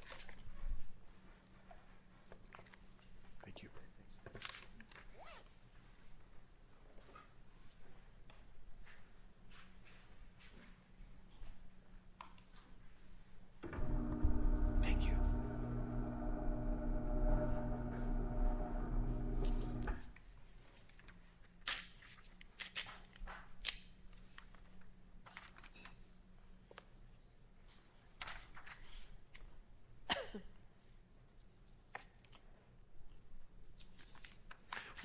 thank you. Thank you. Thank you. Thank you.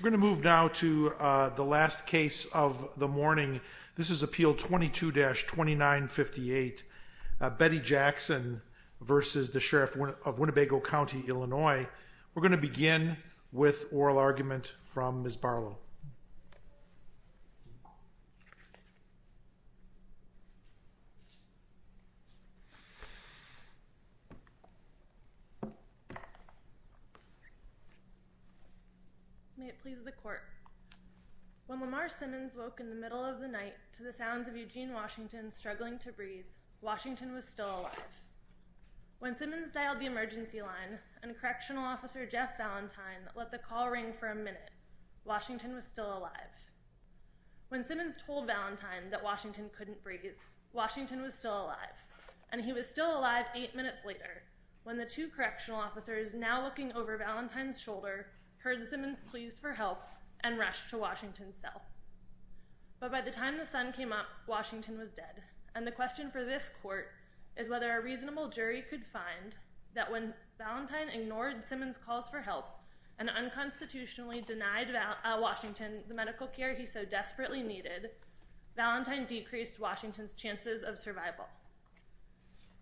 We're going to move now to the last case of the morning. This is appeal 22-29 58 Betty Jackson versus the sheriff of Winnebago County, Illinois. We're going to begin with oral argument from Miss Barlow. May it please the court. When Lamar Simmons woke in the middle of the night to the sounds of Eugene Washington struggling to breathe, Washington was still alive. When Simmons dialed the emergency line and Correctional Officer Jeff Valentine let the call ring for a minute, Washington was still alive. When Simmons told Valentine that Washington couldn't breathe, Washington was still alive and he was still alive eight minutes later when the two correctional officers, now looking over Valentine's shoulder, heard Simmons please for help and rushed to Washington's cell. But by the Washington was dead and the question for this court is whether a reasonable jury could find that when Valentine ignored Simmons' calls for help and unconstitutionally denied Washington the medical care he so desperately needed, Valentine decreased Washington's chances of survival.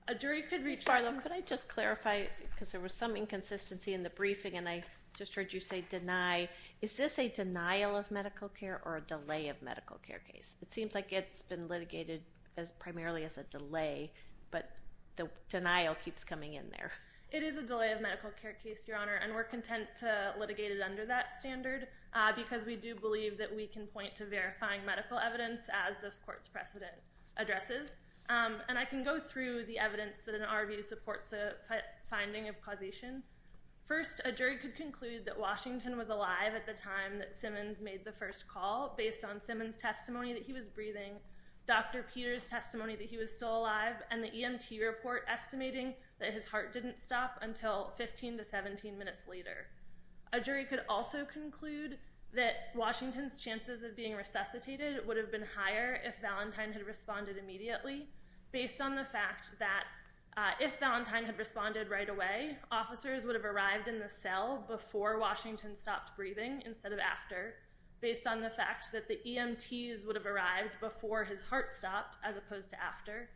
A jury could reach... Miss Barlow, could I just clarify because there was some inconsistency in the briefing and I just heard you say deny. Is this a denial of medical care or a delay of medical care case? It seems like it's been litigated as primarily as a delay but the denial keeps coming in there. It is a delay of medical care case, Your Honor, and we're content to litigate it under that standard because we do believe that we can point to verifying medical evidence as this court's precedent addresses. And I can go through the evidence that in our view supports a finding of causation. First, a jury could conclude that Washington was alive at the time that Simmons made the first call based on Simmons' testimony that he was breathing, Dr. Peter's testimony that he was still alive, and the EMT report estimating that his heart didn't stop until 15 to 17 minutes later. A jury could also conclude that Washington's chances of being resuscitated would have been higher if Valentine had responded immediately based on the fact that if Valentine had responded right away, officers would have arrived in the cell before Washington stopped breathing instead of after, based on the fact that the EMTs would have arrived before his heart stopped as opposed to after,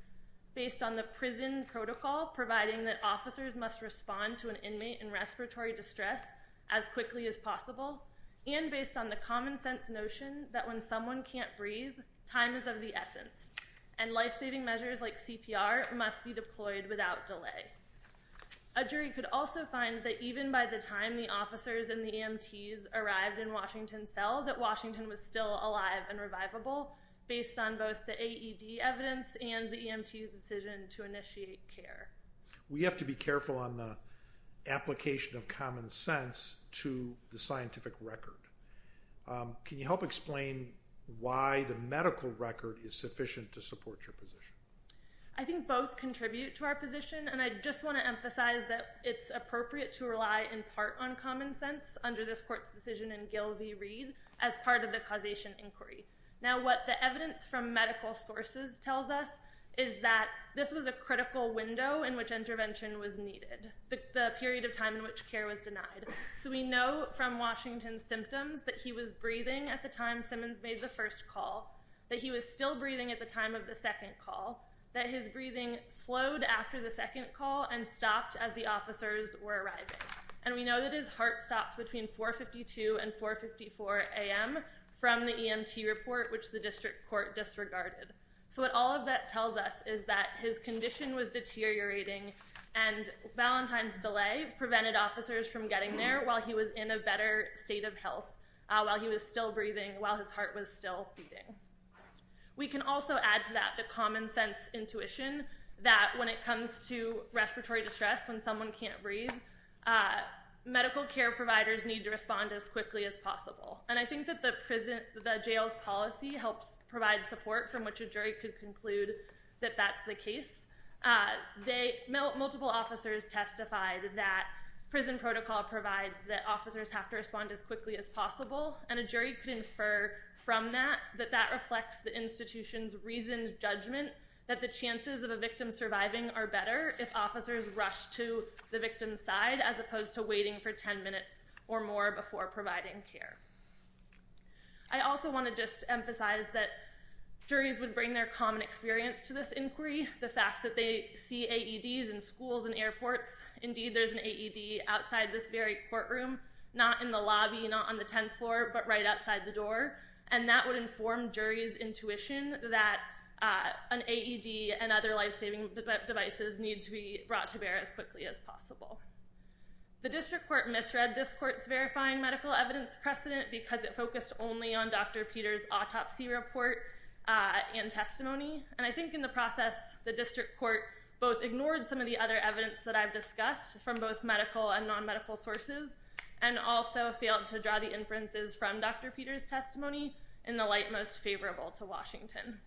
based on the prison protocol providing that officers must respond to an inmate in respiratory distress as quickly as possible, and based on the common sense notion that when someone can't breathe, time is of the essence, and life-saving measures like CPR must be deployed without delay. A jury could also find that even by the time the officers and the EMTs arrived in Washington's alive and revivable based on both the AED evidence and the EMT's decision to initiate care. We have to be careful on the application of common sense to the scientific record. Can you help explain why the medical record is sufficient to support your position? I think both contribute to our position, and I just want to emphasize that it's appropriate to rely in part on common sense under this court's decision in Gill v. Reed as part of the causation inquiry. Now what the evidence from medical sources tells us is that this was a critical window in which intervention was needed, the period of time in which care was denied. So we know from Washington's symptoms that he was breathing at the time Simmons made the first call, that he was still breathing at the time of the second call, that his breathing slowed after the second call and stopped as the officers were arriving. And we know that his heart stopped between 4.52 and 4.54 a.m. from the EMT report, which the district court disregarded. So what all of that tells us is that his condition was deteriorating, and Valentine's delay prevented officers from getting there while he was in a better state of health, while he was still breathing, while his heart was still beating. We can also add to that the common-sense intuition that when it comes to respiratory distress when someone can't breathe, medical care providers need to respond as quickly as possible. And I think that the jail's policy helps provide support from which a jury could conclude that that's the case. Multiple officers testified that prison protocol provides that officers have to respond as quickly as possible, and a jury could infer from that that that reflects the institution's reasoned judgment that the chances of a victim surviving are better if officers rush to the victim's side as opposed to waiting for 10 minutes or more before providing care. I also want to just emphasize that juries would bring their common experience to this inquiry, the fact that they see AEDs in schools and airports. Indeed, there's an AED outside this very courtroom, not in the lobby, not on the 10th floor, but right outside the door. And that would inform juries' intuition that an AED and other life-saving devices need to be brought to bear as quickly as possible. The district court misread this court's verifying medical evidence precedent because it focused only on Dr. Peter's testimony, and I think in the process the district court both ignored some of the other evidence that I've discussed from both medical and non-medical sources, and also failed to draw the inferences from Dr. Peter's testimony in the light most favorable to Washington.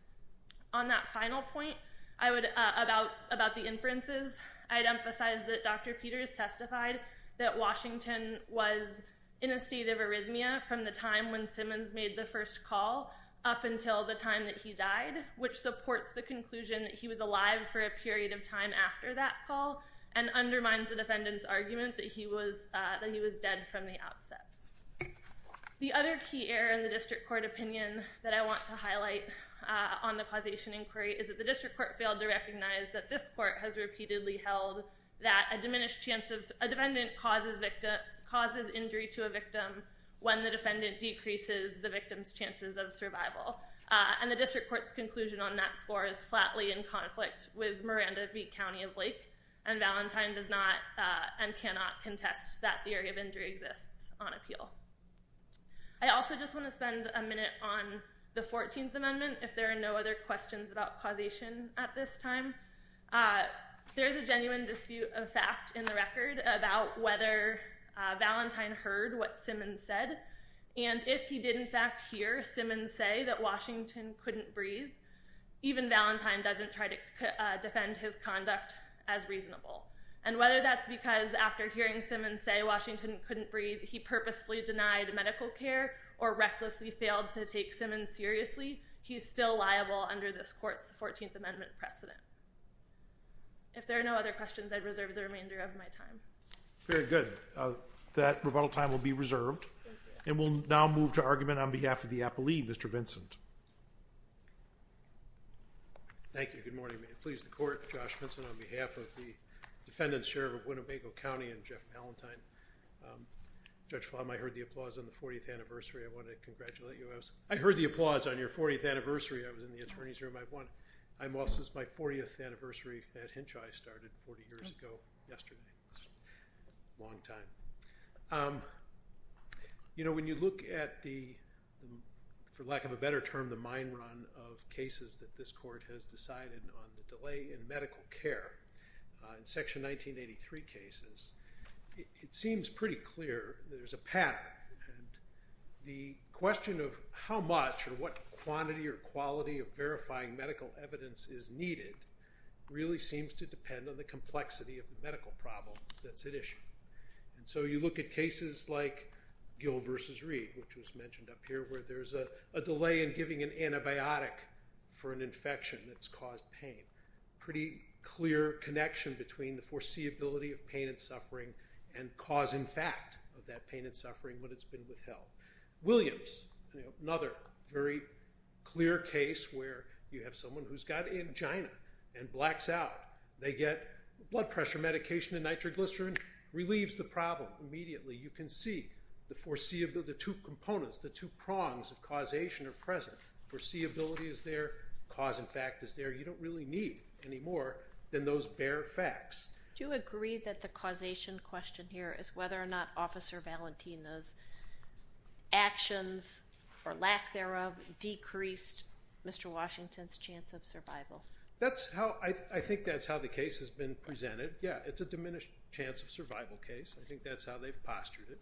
On that final point about the inferences, I'd emphasize that Dr. Peter's testified that Washington was in a state of arrhythmia from the time when Simmons made the first call up until the time that he died, which supports the conclusion that he was alive for a period of time after that call and undermines the defendant's argument that he was dead from the outset. The other key error in the district court opinion that I want to highlight on the causation inquiry is that the district court failed to repeatedly held that a defendant causes injury to a victim when the defendant decreases the victim's chances of survival. And the district court's conclusion on that score is flatly in conflict with Miranda V. County of Lake, and Valentine does not and cannot contest that the area of injury exists on appeal. I also just want to spend a minute on the 14th Amendment, if there are no other questions about causation at this time. There's a genuine dispute of fact in the record about whether Valentine heard what Simmons said, and if he did in fact hear what Simmons said, that Washington couldn't breathe, even Valentine doesn't try to defend his conduct as reasonable. And whether that's because after hearing Simmons say Washington couldn't breathe, he purposefully denied medical care or recklessly failed to take Simmons seriously, he's still liable under this court's 14th Amendment precedent. If there are no other questions, I reserve the remainder of my time. Very good. That rebuttal time will be reserved, and we'll now move to argument on behalf of the appellee, Mr. Vincent. Thank you. Good morning. Please, the court, Josh Vincent, on behalf of the defendant, Sheriff of Winnebago County, and Jeff Valentine. Judge Flom, I heard the applause on the 40th anniversary. I want to congratulate you. I heard the applause on your 40th anniversary. I was in the attorney's room. I'm also since my 40th anniversary at HNCHI started 40 years ago yesterday. Long time. You know, when you look at the, for lack of a better term, the mind run of cases that this court has decided on the delay in medical care, in Section 1983 cases, it seems pretty clear that there's a pattern. The question of how much or what quantity or quality of verifying medical evidence is needed really seems to depend on the complexity of the medical problem that's at issue. And so you look at cases like Gill versus Reed, which was mentioned up here, where there's a delay in giving an antibiotic for an infection that's caused pain. Pretty clear connection between the foreseeability of pain and suffering and cause in fact of that pain and suffering when it's been withheld. Williams, another very clear case where you have someone who's got angina and blacks out. They get blood pressure medication and nitroglycerin relieves the problem immediately. You can see the two components, the two prongs of causation are present. Foreseeability is there. Cause in fact is there. You don't really need any more than those bare facts. Do you agree that the causation question here is whether or not Officer Valentino's actions or lack thereof decreased Mr. Washington's chance of survival? I think that's how the case has been presented. Yeah, it's a diminished chance of survival case. I think that's how they've postured it.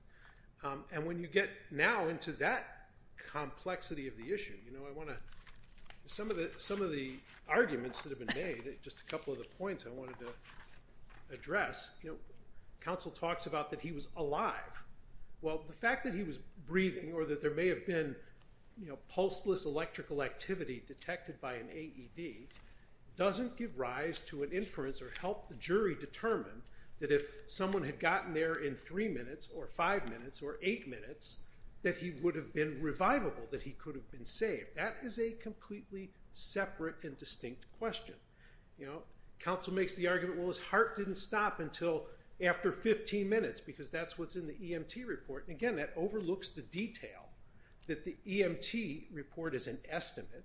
And when you get now into that complexity of the issue, you know, I want to, some of the arguments that have been made, just a couple of the points I wanted to address. You know, counsel talks about that he was alive. Well, the fact that he was breathing or that there may have been, you know, pulseless electrical activity detected by an AED doesn't give rise to an inference or a case that he was alive. It's a case that has helped the jury determine that if someone had gotten there in three minutes or five minutes or eight minutes that he would have been revivable, that he could have been saved. That is a completely separate and distinct question. You know, counsel makes the argument, well, his heart didn't stop until after 15 minutes, because that's what's in the EMT report. Again, that overlooks the detail that the EMT report is an estimate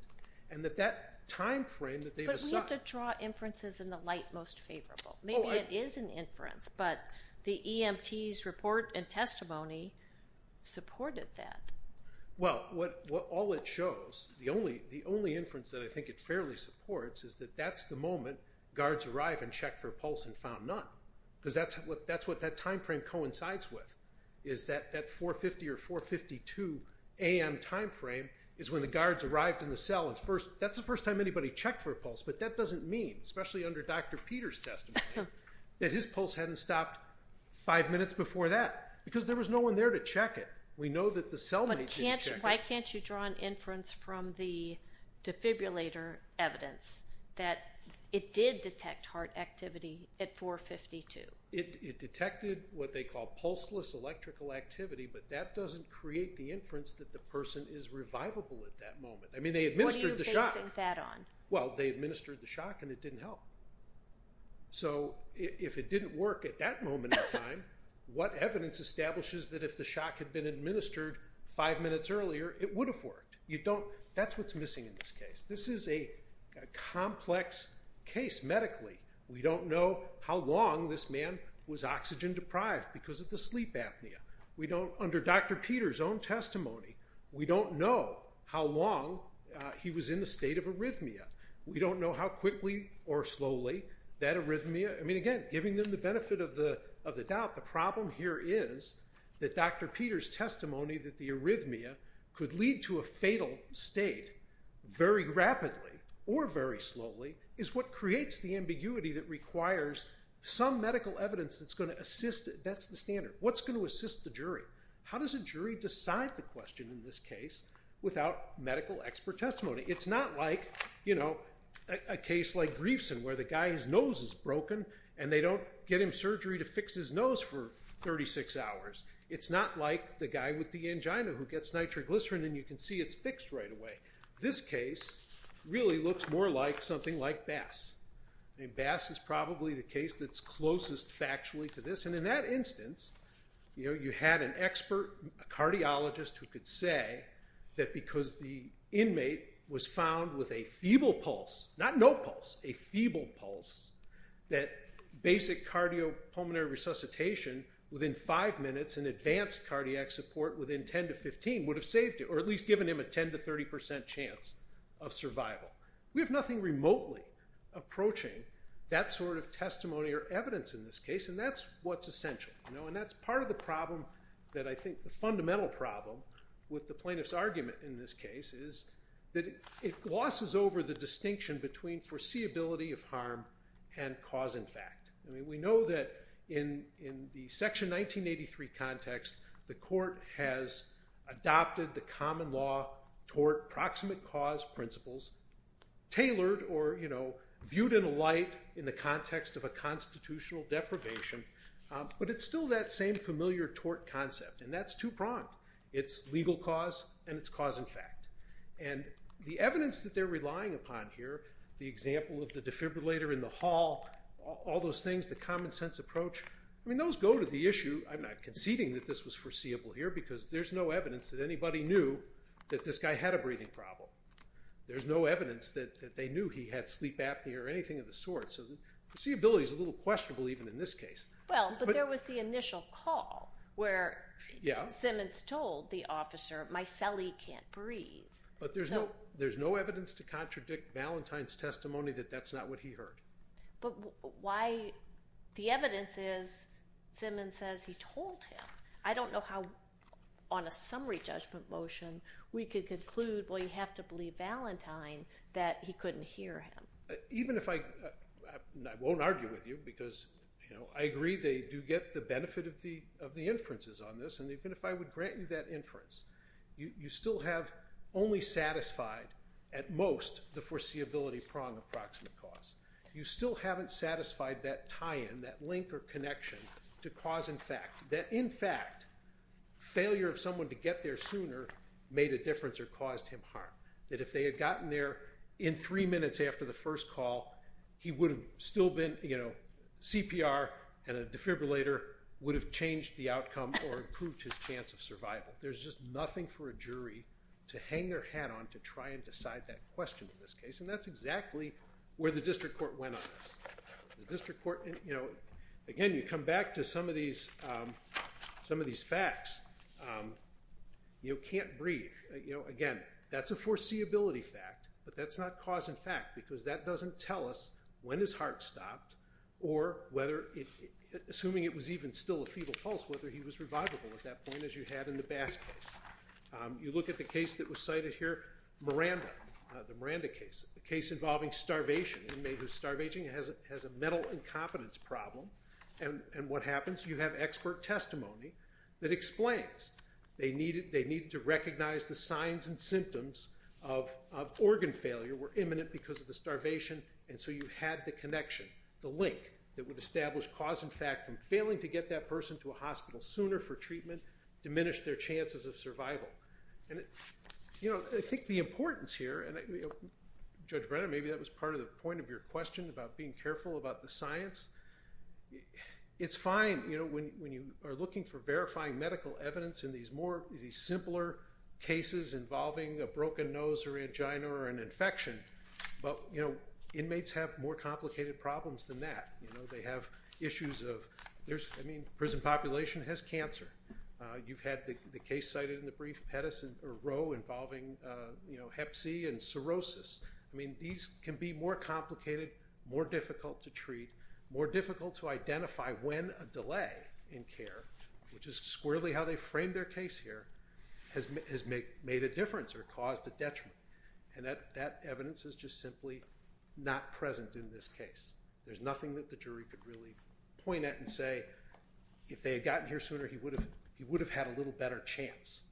and that timeframe that they've assessed. But we have to draw inferences in the light most favorable. Maybe it is an inference, but the EMT's report and testimony supported that. Well, all it shows, the only inference that I think it fairly supports is that that's the moment guards arrived and checked for a pulse and found none, because that's what that timeframe coincides with, is that 4.50 or 4.52 a.m. timeframe is when the guards arrived in the cell. That's the first time anybody checked for a pulse, but that doesn't mean, especially under Dr. Peter's testimony, that his pulse hadn't stopped five minutes before that, because there was no one there to check it. We know that the cellmate didn't check it. But why can't you draw an inference from the defibrillator evidence that it did detect heart activity at 4.52? It detected what they call pulseless electrical activity, but that doesn't create the inference that the person is revivable at that moment. I mean, they administered the shock and it didn't help. So if it didn't work at that moment in time, what evidence establishes that if the shock had been administered five minutes earlier, it would have worked? That's what's missing in this case. This is a complex case medically. We don't know how long this man was oxygen deprived because of the sleep apnea. Under Dr. Peter's own testimony, we don't know how long he was in the state of arrhythmia. We don't know how quickly or slowly that arrhythmia, I mean, again, giving them the benefit of the doubt, the problem here is that Dr. Peter's testimony that the arrhythmia could lead to a fatal state very rapidly or very slowly is what creates the ambiguity that requires some medical evidence that's going to assist, that's the standard. What's going to assist the jury? How does a jury decide the question in this case without medical expert testimony? It's not like a case like Griefson where the guy's nose is broken and they don't get him surgery to fix his nose for 36 hours. It's not like the guy with the angina who gets nitroglycerin and you can see it's fixed right away. This case really looks more like something like Bass. Bass is probably the case that's closest factually to this, and in that instance, you had an expert cardiologist who could say that because the patient was found with a feeble pulse, not no pulse, a feeble pulse, that basic cardiopulmonary resuscitation within five minutes and advanced cardiac support within 10 to 15 would have saved him, or at least given him a 10 to 30% chance of survival. We have nothing remotely approaching that sort of testimony or evidence in this case, and that's what's essential, and that's part of the problem that I think the fundamental problem with the plaintiff's argument in this case is that it glosses over the distinction between foreseeability of harm and cause in fact. We know that in the Section 1983 context, the court has adopted the common law tort proximate cause principles tailored or viewed in a light in the context of a constitutional deprivation, but it's still that same familiar tort concept, and that's two-pronged. It's legal cause and it's cause in fact, and the evidence that they're relying upon here, the example of the defibrillator in the hall, all those things, the common sense approach, I mean, those go to the issue. I'm not conceding that this was foreseeable here because there's no evidence that anybody knew that this guy had a breathing problem. There's no evidence that they knew he had sleep apnea or anything of the sort, so the foreseeability is a little questionable even in this case. Well, but there was the initial call where Simmons told the officer, my celly can't breathe. But there's no evidence to contradict Valentine's testimony that that's not what he heard. But why the evidence is Simmons says he told him. I don't know how on a summary judgment motion we could conclude, well, you have to believe Valentine that he couldn't hear him. Even if I won't argue with you because I agree they do get the benefit of the inferences on this, and even if I would grant you that inference, you still have only satisfied at most the foreseeability prong of proximate cause. You still haven't satisfied that tie-in, that link or connection to cause in fact, that in fact failure of someone to get there sooner made a difference or caused him harm. That if they had gotten there in three minutes after the first call, he would have still been, you know, CPR and a defibrillator would have changed the outcome or improved his chance of survival. There's just nothing for a jury to hang their hat on to try and decide that question in this case. And that's exactly where the district court went on this. The district court, you know, again, you come back to some of these facts. You know, can't breathe. You know, again, that's a foreseeability fact, but that's not cause in fact because that doesn't tell us when his heart stopped or whether, assuming it was even still a febrile pulse, whether he was revivable at that point as you had in the Bass case. You look at the case that was cited here, Miranda, the Miranda case, a case involving starvation. The inmate was starvating, has a mental incompetence problem, and what happens? You have expert testimony that explains. They needed to recognize the signs and symptoms of organ failure were imminent because of the starvation, and so you had the connection, the link that would establish cause in fact from failing to get that person to a hospital sooner for treatment, diminish their chances of survival. And, you know, I think the importance here, and Judge Brennan, maybe that was part of the point of your question about being careful about the science. It's fine, you know, when you are looking for verifying medical evidence in these more, these simpler cases involving a broken nose or angina or an infection, but, you know, inmates have more complicated problems than that. You know, they have issues of there's, I mean, prison population has cancer. You've had the case cited in the brief Pettis or Rowe involving, you know, hep C and cirrhosis. I mean, these can be more complicated, more difficult to treat, more difficult to identify when a delay in care, which is squarely how they framed their case here, has made a difference or caused a detriment, and that evidence is just simply not present in this case. There's nothing that the jury could really point at and say, if they had gotten here sooner, he would have had a little better chance.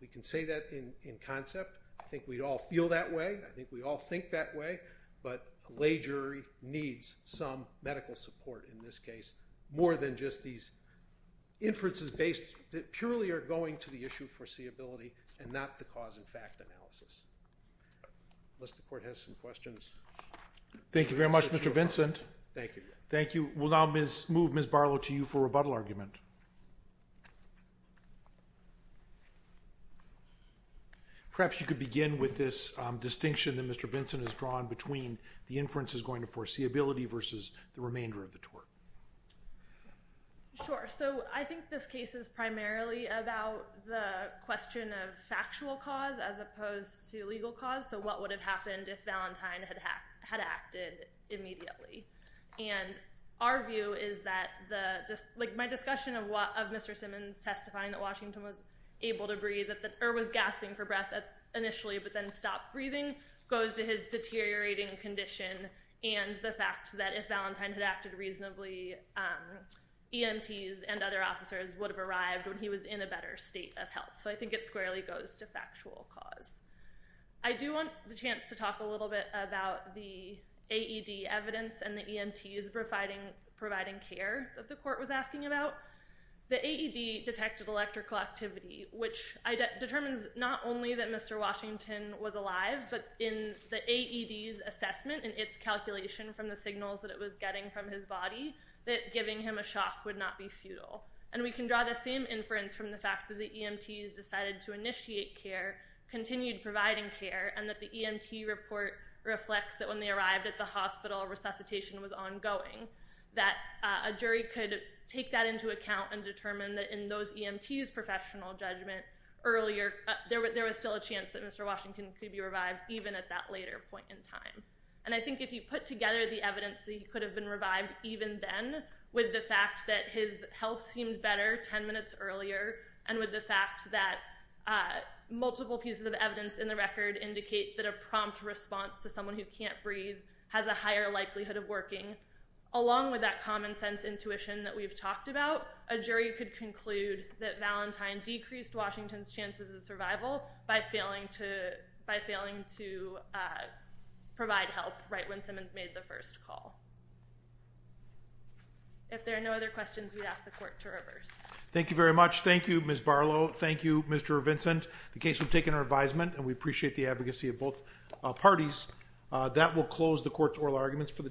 We can say that in concept. I think we all feel that way. I think we all think that way, but a lay jury needs some medical support in this case, more than just these inferences based that purely are going to the issue of foreseeability and not the cause and fact analysis. Unless the court has some questions. Thank you very much, Mr. Vincent. Thank you. Thank you. We'll now move Ms. Barlow to you for a rebuttal argument. Perhaps you could begin with this distinction that Mr. Vincent has drawn between the inference is going to foreseeability versus the remainder of the tort. Sure. So I think this case is primarily about the question of factual cause as opposed to legal cause. So what would have happened if Valentine had acted reasonably, he would have been arrested immediately. And our view is that the, like my discussion of Mr. Simmons testifying that Washington was able to breathe or was gasping for breath initially but then stopped breathing goes to his deteriorating condition and the fact that if Valentine had acted reasonably, EMTs and other officers would have arrived when he was in a better state of health. So I think it squarely goes to factual cause. I do want the chance to talk a little bit about the AED evidence and the EMTs providing care that the court was asking about. The AED detected electrical activity which determines not only that Mr. Washington was alive but in the AED's assessment and its calculation from the signals that it was getting from his body that giving him a shock would not be futile. And we can draw the same inference from the fact that the EMTs decided to initiate care, continued providing care and that the EMT report reflects that when they arrived at the hospital resuscitation was ongoing. That a jury could take that into account and determine that in those EMTs professional judgment earlier there was still a chance that Mr. Washington could be revived even at that later point in time. And I think if you put together the evidence that he could have been revived even then with the fact that his health seemed better ten minutes earlier and with the fact that multiple pieces of evidence in addition to the fact that he had a prompt response to someone who can't breathe has a higher likelihood of working along with that common sense intuition that we've talked about, a jury could conclude that Valentine decreased Washington's chances of survival by failing to provide help right when Simmons made the first call. If there are no other questions we ask the court to reverse. Thank you very much. Thank you Ms. Barlow. Thank you Mr. Vincent. The case will take argument. Thank you for your time and your advice and we appreciate the advocacy of both parties. That will close the court's oral arguments for the